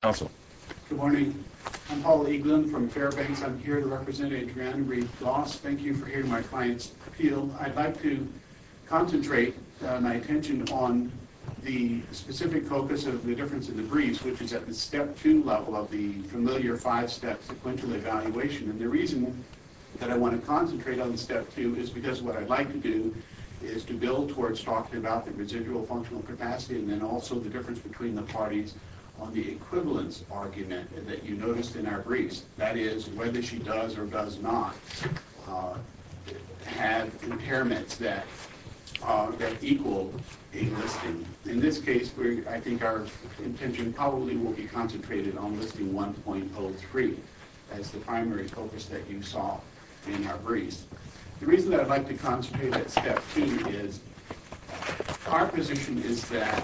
Good morning. I'm Paul Eaglin from Fairbanks. I'm here to represent Adrienne Reid-Goss. Thank you for hearing my client's appeal. I'd like to concentrate my attention on the specific focus of the difference in the briefs, which is at the Step 2 level of the familiar five-step sequential evaluation. And the reason that I want to concentrate on Step 2 is because what I'd like to do is to build towards talking about the residual functional capacity and then also the difference between the parties on the equivalence argument that you noticed in our briefs. That is, whether she does or does not have impairments that equal a listing. In this case, I think our attention probably will be concentrated on listing 1.03 as the primary focus that you saw in our briefs. The reason that I'd like to concentrate on Step 2 is our position is that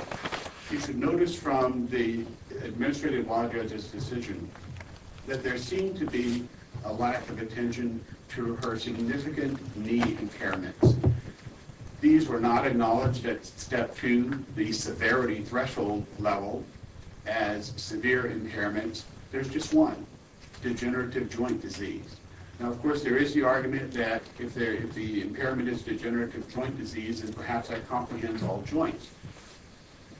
you should notice from the administrative law judge's decision that there seemed to be a lack of attention to her significant knee impairments. These were not acknowledged at Step 2, the severity threshold level, as severe impairments. There's just one, degenerative joint disease. Now, of course, there is the argument that if the impairment is degenerative joint disease, then perhaps that comprehends all joints.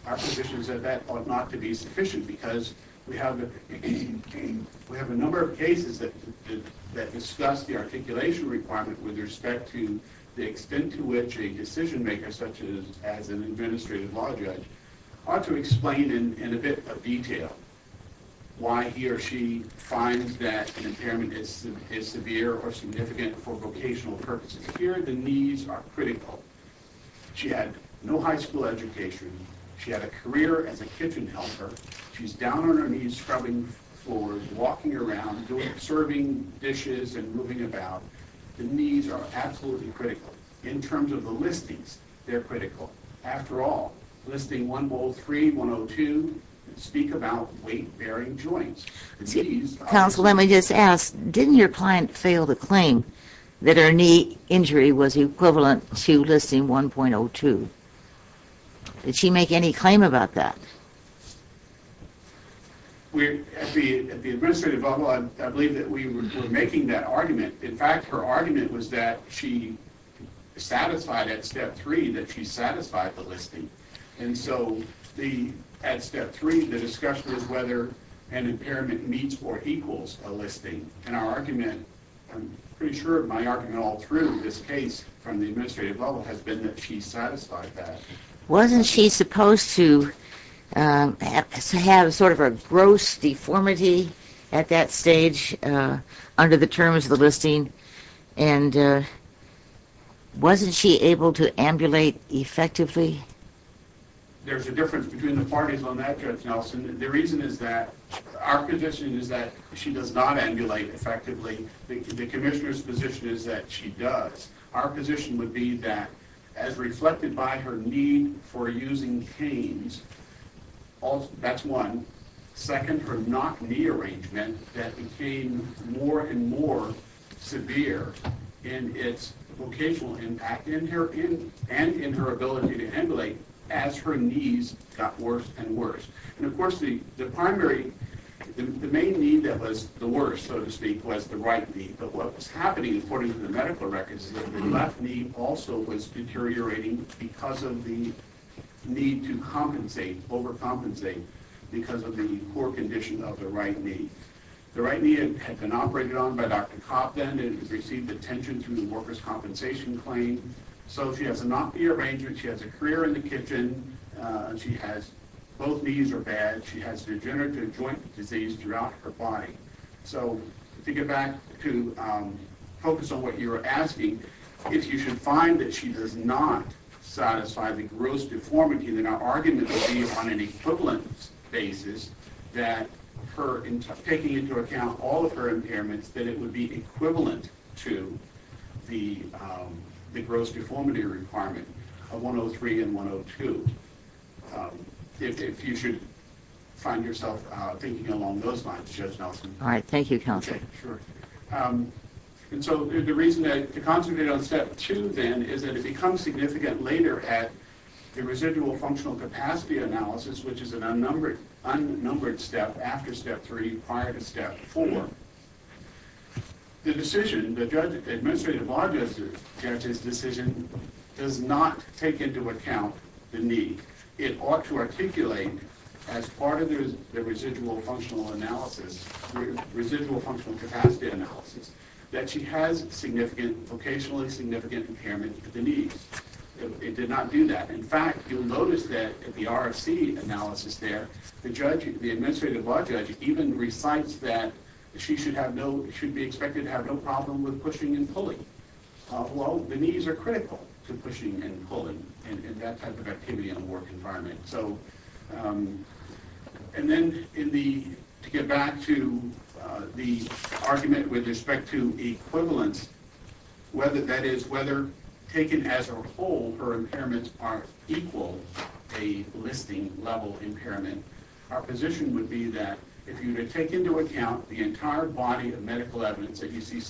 Our position is that that ought not to be sufficient because we have a number of cases that discuss the articulation requirement with respect to the extent to which a decision maker, such as an administrative law judge, ought to explain in a bit of detail why he or she finds that an impairment is severe or significant for vocational purposes. Here, the knees are critical. She had no high school education. She had a career as a kitchen helper. She's down on her knees scrubbing floors, walking around, serving dishes and moving about. The knees are absolutely critical. In terms of the listings, they're critical. After all, listing 1.03 and 1.02 speak about weight-bearing joints. Counsel, let me just ask, didn't your client fail to claim that her knee injury was equivalent to listing 1.02? Did she make any claim about that? At the administrative level, I believe that we were making that argument. In fact, her argument was that she satisfied at Step 3 that she satisfied the listing. And so at Step 3, the discussion was whether an impairment meets or equals a listing. And our argument, I'm pretty sure my argument all through this case from the administrative level, has been that she satisfied that. Wasn't she supposed to have sort of a gross deformity at that stage under the terms of the listing? And wasn't she able to ambulate effectively? There's a difference between the parties on that, Judge Nelson. The reason is that our position is that she does not ambulate effectively. The commissioner's position is that she does. Our position would be that, as reflected by her need for using canes, that's one. Second, her knock-knee arrangement that became more and more severe in its vocational impact and in her ability to ambulate as her knees got worse and worse. And, of course, the primary, the main need that was the worst, so to speak, was the right knee. But what was happening, according to the medical records, is that the left knee also was deteriorating because of the need to compensate, overcompensate, because of the poor condition of the right knee. The right knee had been operated on by Dr. Cobb then and had received attention through the workers' compensation claim. So she has a knock-knee arrangement. She has a career in the kitchen. She has both knees are bad. She has degenerative joint disease throughout her body. So to get back to focus on what you were asking, if you should find that she does not satisfy the gross deformity, then our argument would be on an equivalent basis that her taking into account all of her impairments, that it would be equivalent to the gross deformity requirement of 103 and 102. If you should find yourself thinking along those lines, Judge Nelson. All right. Thank you, Counsel. Okay. Sure. And so the reason to concentrate on Step 2 then is that it becomes significant later at the residual functional capacity analysis, which is an unnumbered step after Step 3 prior to Step 4. The decision, the judge, the administrative bar judge's decision does not take into account the knee. It ought to articulate as part of the residual functional analysis, residual functional capacity analysis, that she has significant, vocationally significant impairment at the knees. It did not do that. In fact, you'll notice that at the RFC analysis there, the judge, the administrative bar judge, even recites that she should have no, should be expected to have no problem with pushing and pulling. Well, the knees are critical to pushing and pulling and that type of activity in a work environment. So, and then in the, to get back to the argument with respect to equivalence, whether that is, whether taken as a whole her impairments are equal, a listing level impairment, our position would be that if you were to take into account the entire body of medical evidence that you see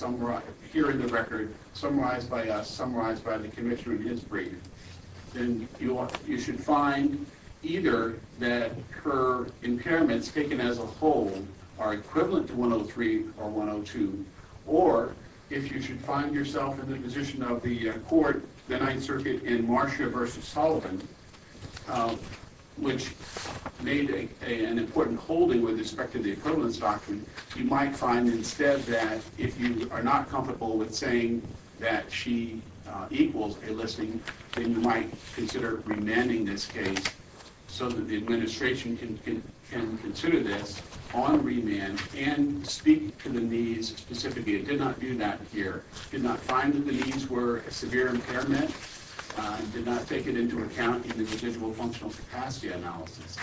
here in the record, summarized by us, summarized by the commissioner in his brief, then you should find either that her impairments taken as a whole are equivalent to 103 or 102, or if you should find yourself in the position of the court, the Ninth Circuit in Marsha versus Sullivan, which made an important holding with respect to the equivalence doctrine, you might find instead that if you are not comfortable with saying that she equals a listing, then you might consider remanding this case so that the administration can consider this on remand and speak to the knees specifically. It did not do that here. It did not find that the knees were a severe impairment. It did not take it into account in the individual functional capacity analysis.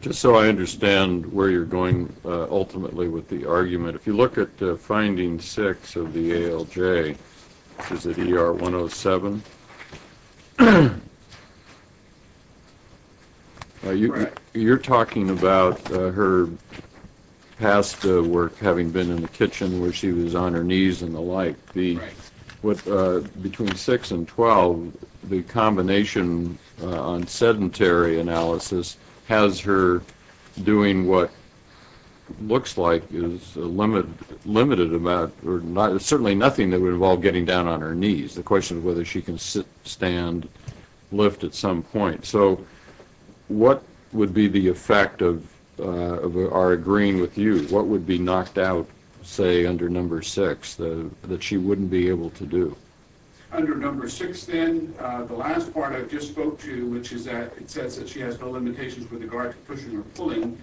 Just so I understand where you're going ultimately with the argument, if you look at finding six of the ALJ, is it ER 107? You're talking about her past work having been in the kitchen where she was on her knees and the like. Between 6 and 12, the combination on sedentary analysis has her doing what looks like is limited about, or certainly nothing that would involve getting down on her knees. The question is whether she can sit, stand, lift at some point. So what would be the effect of our agreeing with you? What would be knocked out, say, under number six that she wouldn't be able to do? Under number six then, the last part I just spoke to, which is that it says that she has no limitations with regard to pushing or pulling,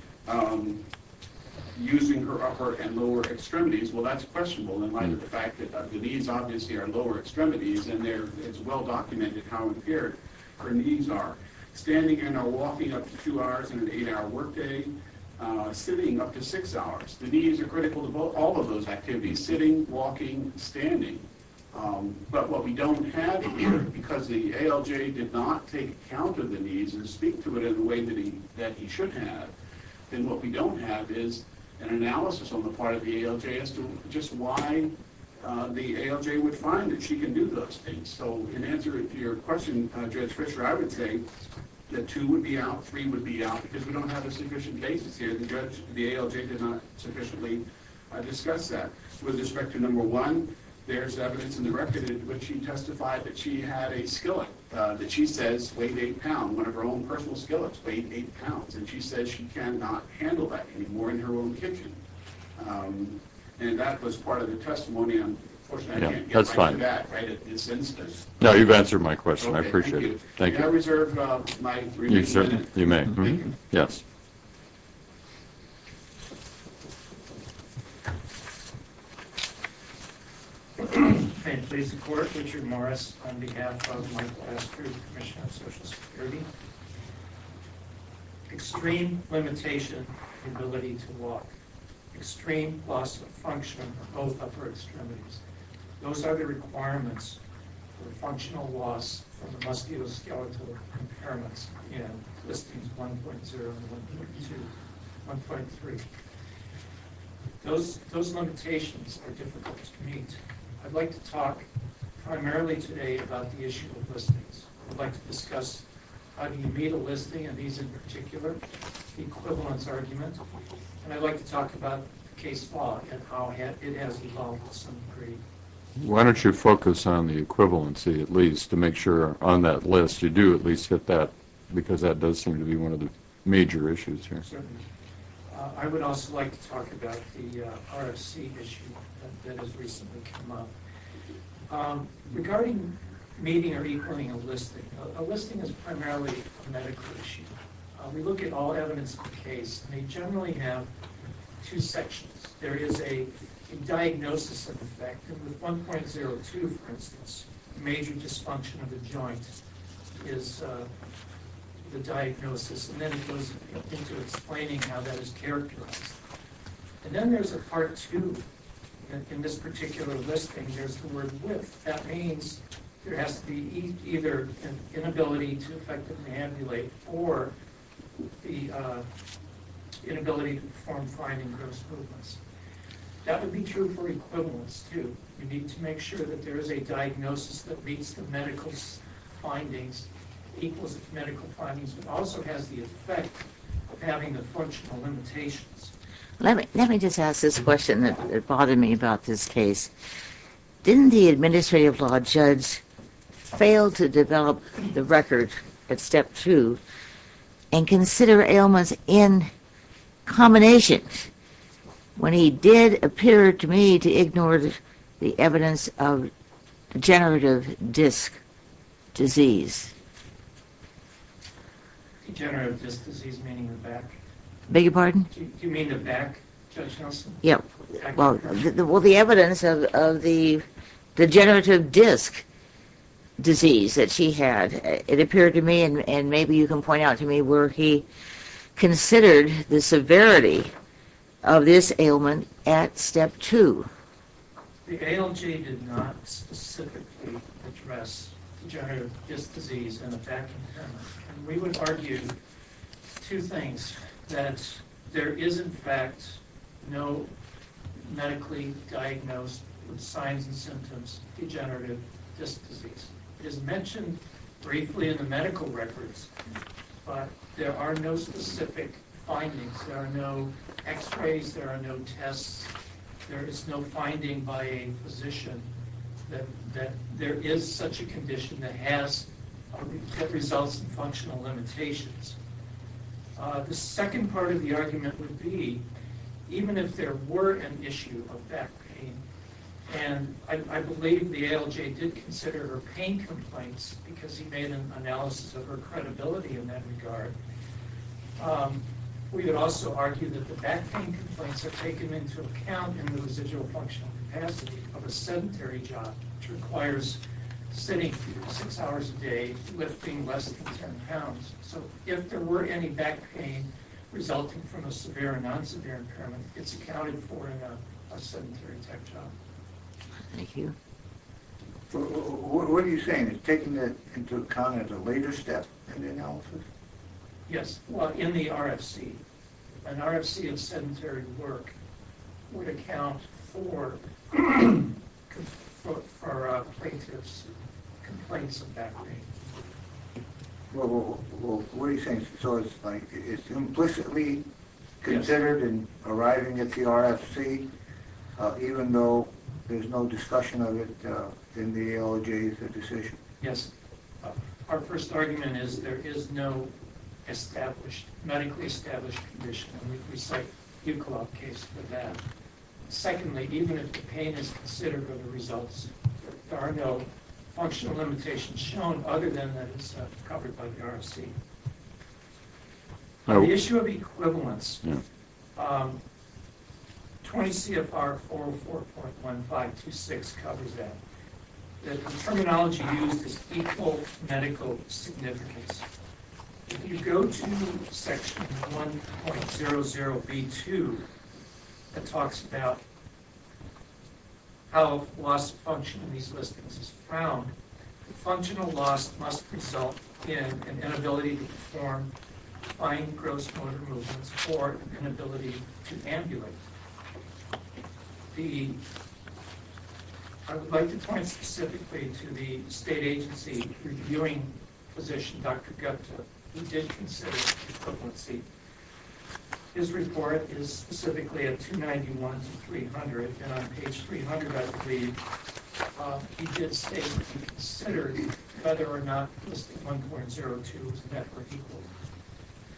using her upper and lower extremities. Well, that's questionable in light of the fact that the knees obviously are lower extremities, and it's well documented how impaired her knees are. Standing and walking up to two hours in an eight-hour workday, sitting up to six hours. The knees are critical to all of those activities, sitting, walking, standing. But what we don't have, because the ALJ did not take account of the knees and speak to it in the way that he should have, then what we don't have is an analysis on the part of the ALJ as to just why the ALJ would find that she can do those things. So in answer to your question, Judge Fisher, I would say that two would be out, three would be out, because we don't have a sufficient basis here. The ALJ did not sufficiently discuss that. With respect to number one, there's evidence in the record in which she testified that she had a skillet that she says weighed eight pounds, one of her own personal skillets weighed eight pounds, and she says she cannot handle that anymore in her own kitchen. And that was part of the testimony. Unfortunately, I can't get back to that in this instance. No, you've answered my question. I appreciate it. Thank you. Can I reserve my three minutes? You may. Thank you. Thank you. May it please the Court, Richard Morris on behalf of Michael Astor, Commissioner of Social Security. Extreme limitation of ability to walk, extreme loss of function of both upper extremities, those are the requirements for functional loss of the musculoskeletal impairments and listings 1.0 and 1.2, 1.3. Those limitations are difficult to meet. I'd like to talk primarily today about the issue of listings. I'd like to discuss how do you meet a listing, and these in particular, the equivalence argument, and I'd like to talk about case law and how it has evolved with some degree. Why don't you focus on the equivalency at least to make sure on that list you do at least hit that, because that does seem to be one of the major issues here. Certainly. I would also like to talk about the RFC issue that has recently come up. Regarding meeting or equaling a listing, a listing is primarily a medical issue. We look at all evidence of the case, and they generally have two sections. There is a diagnosis of effect, and with 1.02, for instance, a major dysfunction of the joint is the diagnosis, and then it goes into explaining how that is characterized. And then there's a part two. In this particular listing, there's the word with. That means there has to be either an inability to effectively ambulate or the inability to perform finding gross movements. That would be true for equivalence, too. You need to make sure that there is a diagnosis that meets the medical findings, equals the medical findings, but also has the effect of having the functional limitations. Let me just ask this question that bothered me about this case. Didn't the administrative law judge fail to develop the record at step two and consider ailments in combination when he did appear to me to ignore the evidence of degenerative disc disease? Degenerative disc disease, meaning the back? Beg your pardon? Do you mean the back, Judge Nelson? Well, the evidence of the degenerative disc disease that she had, it appeared to me, and maybe you can point out to me, where he considered the severity of this ailment at step two. The ALG did not specifically address degenerative disc disease and the back. We would argue two things, that there is, in fact, no medically diagnosed signs and symptoms of degenerative disc disease. It is mentioned briefly in the medical records, but there are no specific findings. There are no x-rays. There are no tests. There is no finding by a physician that there is such a condition that results in functional limitations. The second part of the argument would be, even if there were an issue of back pain, and I believe the ALG did consider her pain complaints because he made an analysis of her credibility in that regard, we would also argue that the back pain complaints are taken into account in the residual functional capacity of a sedentary job, which requires sitting six hours a day, lifting less than 10 pounds. So if there were any back pain resulting from a severe or non-severe impairment, it's accounted for in a sedentary type job. Thank you. What are you saying? It's taken into account at a later step in the analysis? Yes, in the RFC. An RFC of sedentary work would account for plaintiff's complaints of back pain. What are you saying? So it's implicitly considered in arriving at the RFC, even though there's no discussion of it in the ALG's decision? Yes. Our first argument is there is no medically established condition, and we cite the Buchwald case for that. Secondly, even if the pain is considered of the results, there are no functional limitations shown other than that it's covered by the RFC. The issue of equivalence, 20 CFR 404.1526 covers that. The terminology used is equal medical significance. If you go to Section 1.00B2, it talks about how loss of function in these listings is found. Functional loss must result in an inability to perform fine gross motor movements or an inability to ambulate. I would like to point specifically to the state agency reviewing physician, Dr. Gupta, who did consider equivalency. His report is specifically at 291 to 300, and on page 300, I believe, he did state that he considered whether or not listing 1.02 and that were equal.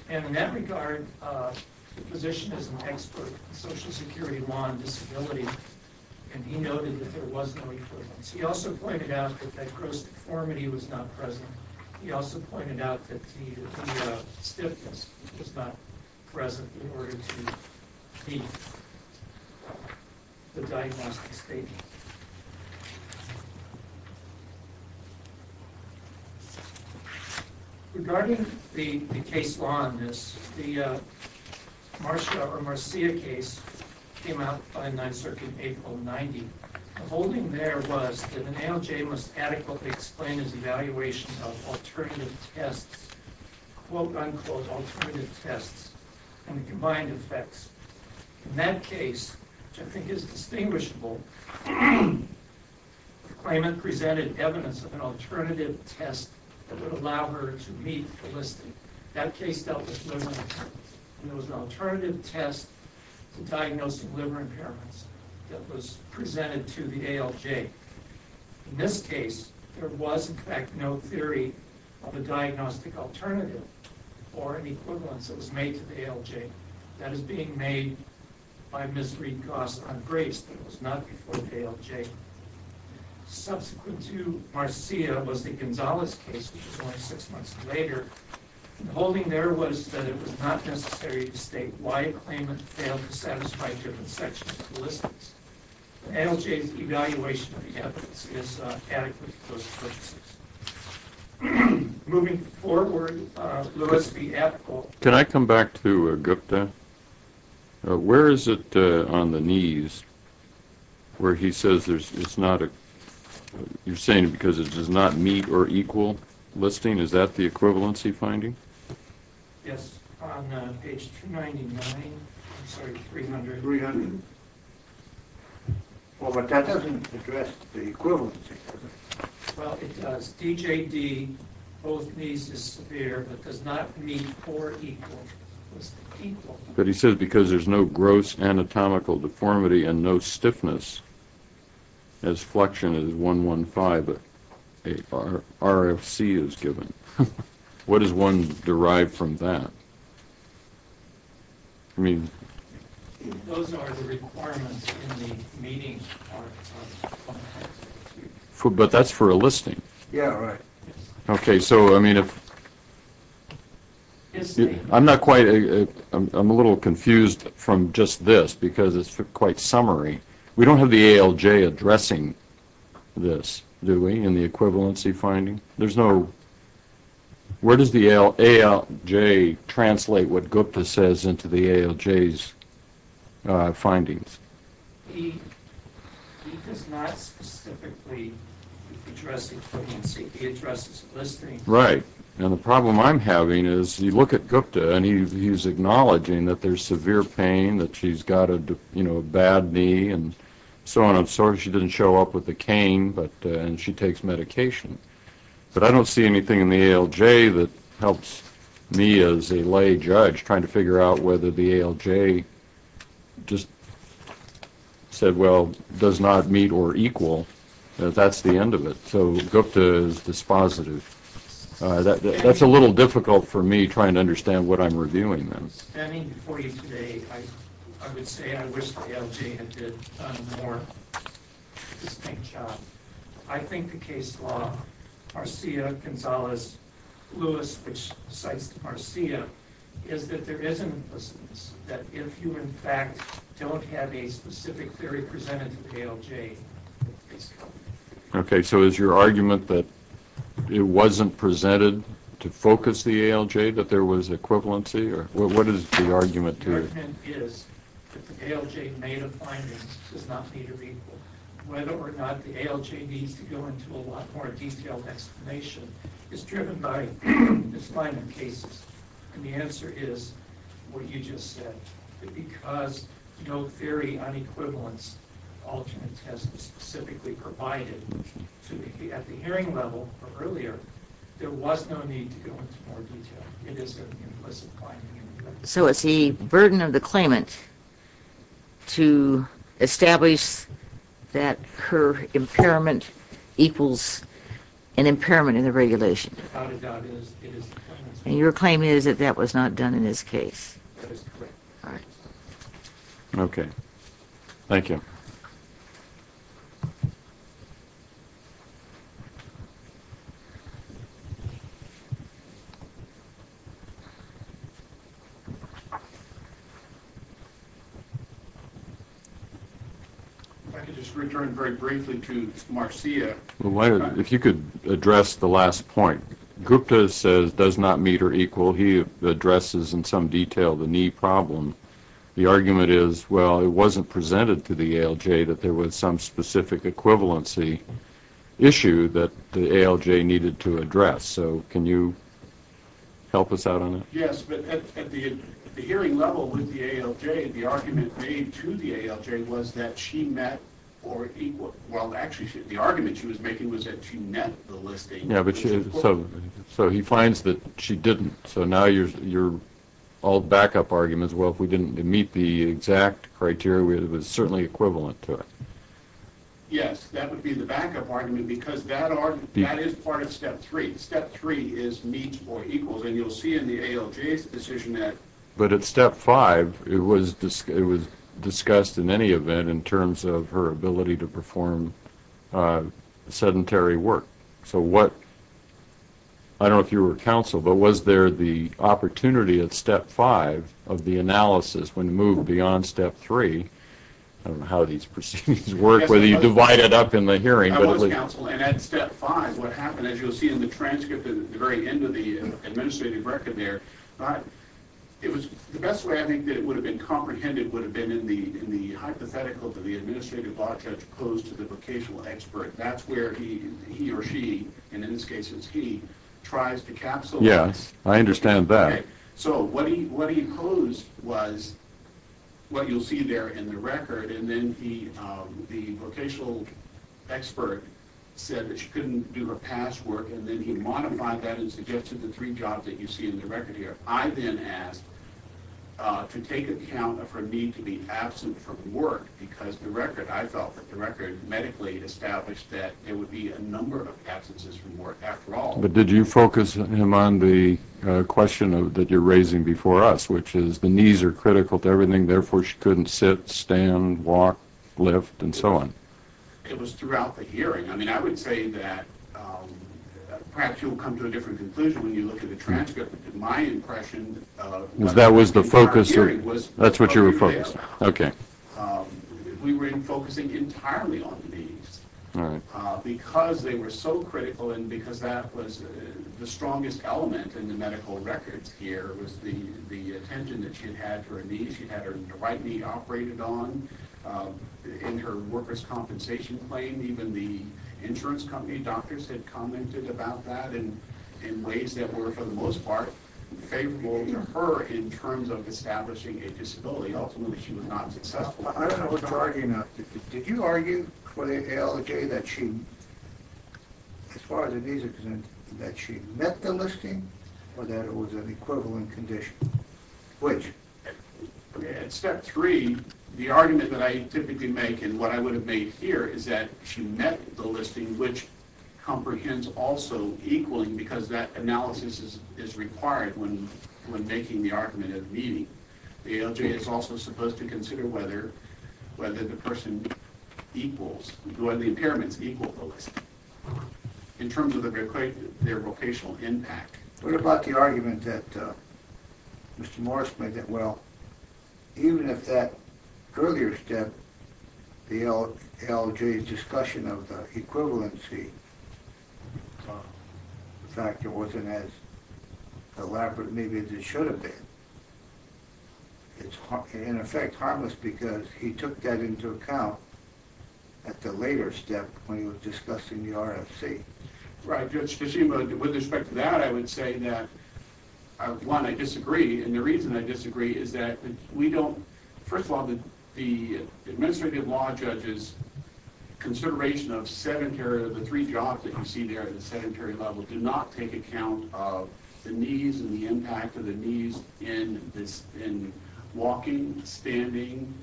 In that regard, the physician is an expert in Social Security law and disability, and he noted that there was no equivalence. He also pointed out that gross deformity was not present. He also pointed out that the stiffness was not present in order to meet the diagnostic statement. Regarding the case law in this, the Marcia case came out by 9th Circuit April of 1990. The holding there was that an ALJ must adequately explain its evaluation of alternative tests, quote, unquote, alternative tests, and the combined effects. In that case, which I think is distinguishable, the claimant presented evidence of an alternative test that would allow her to meet the listing. That case dealt with liver impairments, and there was an alternative test to diagnosing liver impairments that was presented to the ALJ. In this case, there was, in fact, no theory of a diagnostic alternative or an equivalence that was made to the ALJ. That is being made by Ms. Reed-Coss on grace that was not before the ALJ. Subsequent to Marcia was the Gonzales case, which was only six months later. The holding there was that it was not necessary to state why a claimant failed to satisfy different sections of the listings. The ALJ's evaluation of the evidence is adequate for those purposes. Moving forward, Louis B. Ethel. Can I come back to Gupta? Where is it on the knees where he says it's not a—you're saying because it does not meet or equal listing? Is that the equivalency finding? Yes, on page 299—I'm sorry, 300. 300. Oh, but that doesn't address the equivalency. Well, it does. DJD, both knees disappear, but does not meet or equal. But he says because there's no gross anatomical deformity and no stiffness as flexion is 115, but RFC is given. What is one derived from that? I mean— Those are the requirements in the meeting part. But that's for a listing. Yeah, right. Okay, so I mean if—I'm not quite—I'm a little confused from just this because it's quite summary. We don't have the ALJ addressing this, do we, in the equivalency finding? Where does the ALJ translate what Gupta says into the ALJ's findings? He does not specifically address equivalency. He addresses listing. Right, and the problem I'm having is you look at Gupta, and he's acknowledging that there's severe pain, that she's got a bad knee and so on and so forth. She didn't show up with a cane, and she takes medication. But I don't see anything in the ALJ that helps me as a lay judge trying to figure out whether the ALJ just said, well, does not meet or equal, that that's the end of it. So Gupta is dispositive. That's a little difficult for me trying to understand what I'm reviewing then. Standing before you today, I would say I wish the ALJ had done a more distinct job. I think the case law, Marcia Gonzales Lewis, which cites Marcia, is that there is an implicitness that if you, in fact, don't have a specific theory presented to the ALJ, it's covered. Okay, so is your argument that it wasn't presented to focus the ALJ, that there was equivalency? What is the argument to it? The argument is that the ALJ made a finding that does not meet or equal. Whether or not the ALJ needs to go into a lot more detailed explanation is driven by misalignment cases. And the answer is what you just said, that because no theory on equivalence alternate tests specifically provided at the hearing level or earlier, there was no need to go into more detail. It is an implicit finding. So it's the burden of the claimant to establish that her impairment equals an impairment in the regulation. Without a doubt, it is the claimant's fault. And your claim is that that was not done in this case. That is correct. All right. Okay, thank you. Thank you. If I could just return very briefly to Marcia. If you could address the last point. Gupta says does not meet or equal. He addresses in some detail the knee problem. The argument is, well, it wasn't presented to the ALJ that there was some specific equivalency issue that the ALJ needed to address. So can you help us out on that? Yes, but at the hearing level with the ALJ, the argument made to the ALJ was that she met or equal. Well, actually, the argument she was making was that she met the listing. So he finds that she didn't. So now you're all backup arguments. Well, if we didn't meet the exact criteria, it was certainly equivalent to it. Yes, that would be the backup argument because that is part of step three. Step three is meets or equals. And you'll see in the ALJ's decision that. But at step five, it was discussed in any event in terms of her ability to perform sedentary work. So what – I don't know if you were counsel, but was there the opportunity at step five of the analysis when moved beyond step three – I don't know how these proceedings work, whether you divide it up in the hearing. I was counsel. And at step five, what happened, as you'll see in the transcript at the very end of the administrative record there, it was – the best way I think that it would have been comprehended would have been in the hypothetical that the administrative law judge posed to the vocational expert. That's where he or she, and in this case it's he, tries to capsulize. Yes, I understand that. Okay. So what he posed was what you'll see there in the record, and then the vocational expert said that she couldn't do her past work, and then he modified that and suggested the three jobs that you see in the record here. I then asked to take account of her need to be absent from work because the record – I felt that the record medically established that there would be a number of absences from work after all. But did you focus him on the question that you're raising before us, which is the knees are critical to everything, therefore she couldn't sit, stand, walk, lift, and so on? It was throughout the hearing. I mean, I would say that – perhaps you'll come to a different conclusion when you look at the transcript, but to my impression – Because that was the focus – Our hearing was – That's what you were focused on. Okay. We were focusing entirely on the knees. All right. Because they were so critical and because that was the strongest element in the medical records here was the attention that she had for her knees. She had her right knee operated on in her workers' compensation claim. Even the insurance company doctors had commented about that in ways that were, for the most part, favorable to her in terms of establishing a disability. Ultimately, she was not successful. I don't know what you're arguing about. Did you argue for the ALJ that she, as far as the knees are concerned, that she met the listing or that it was an equivalent condition? Which? At step three, the argument that I typically make and what I would have made here is that she met the listing, which comprehends also equaling because that analysis is required when making the argument of meeting. The ALJ is also supposed to consider whether the person equals, whether the impairments equal the listing in terms of their vocational impact. What about the argument that Mr. Morris made that, well, even if that earlier step, the ALJ's discussion of the equivalency factor wasn't as elaborate maybe as it should have been, it's, in effect, harmless because he took that into account at the later step when he was discussing the RFC. Right, Judge Kishima, with respect to that, I would say that, one, I disagree, and the reason I disagree is that we don't, first of all, the administrative law judges' consideration of the three jobs that you see there at the sedentary level do not take account of the needs and the impact of the needs in walking, standing,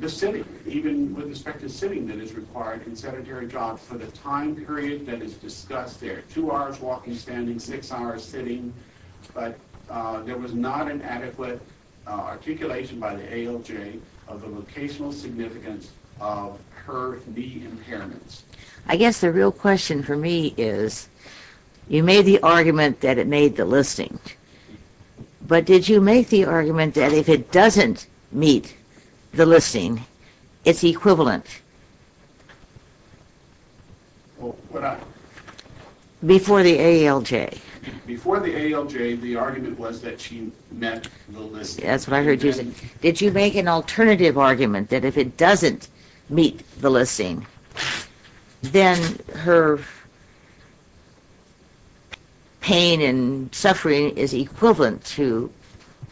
the sitting, even with respect to sitting that is required in sedentary jobs for the time period that is discussed there, two hours walking, standing, six hours sitting, but there was not an adequate articulation by the ALJ of the vocational significance of her knee impairments. I guess the real question for me is, you made the argument that it made the listing, but did you make the argument that if it doesn't meet the listing, it's equivalent before the ALJ? Before the ALJ, the argument was that she met the listing. That's what I heard you say. Did you make an alternative argument that if it doesn't meet the listing, then her pain and suffering is equivalent to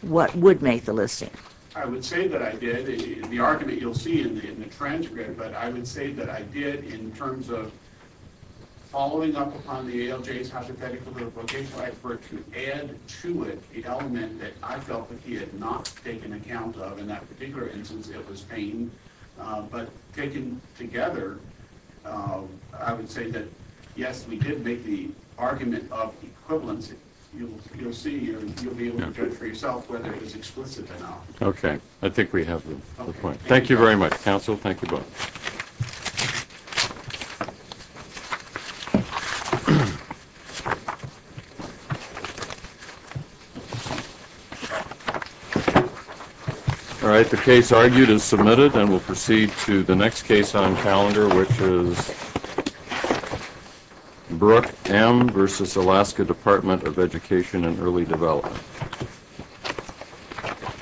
what would make the listing? I would say that I did. The argument you'll see in the transcript, but I would say that I did in terms of following up upon the ALJ's hypothetical to add to it the element that I felt that he had not taken account of. In that particular instance, it was pain. But taken together, I would say that, yes, we did make the argument of equivalency. You'll see and you'll be able to judge for yourself whether it was explicit or not. Okay. I think we have the point. Thank you very much, counsel. Thank you both. All right. The case argued is submitted, and we'll proceed to the next case on calendar, which is Brooke M. v. Alaska Department of Education and Early Development.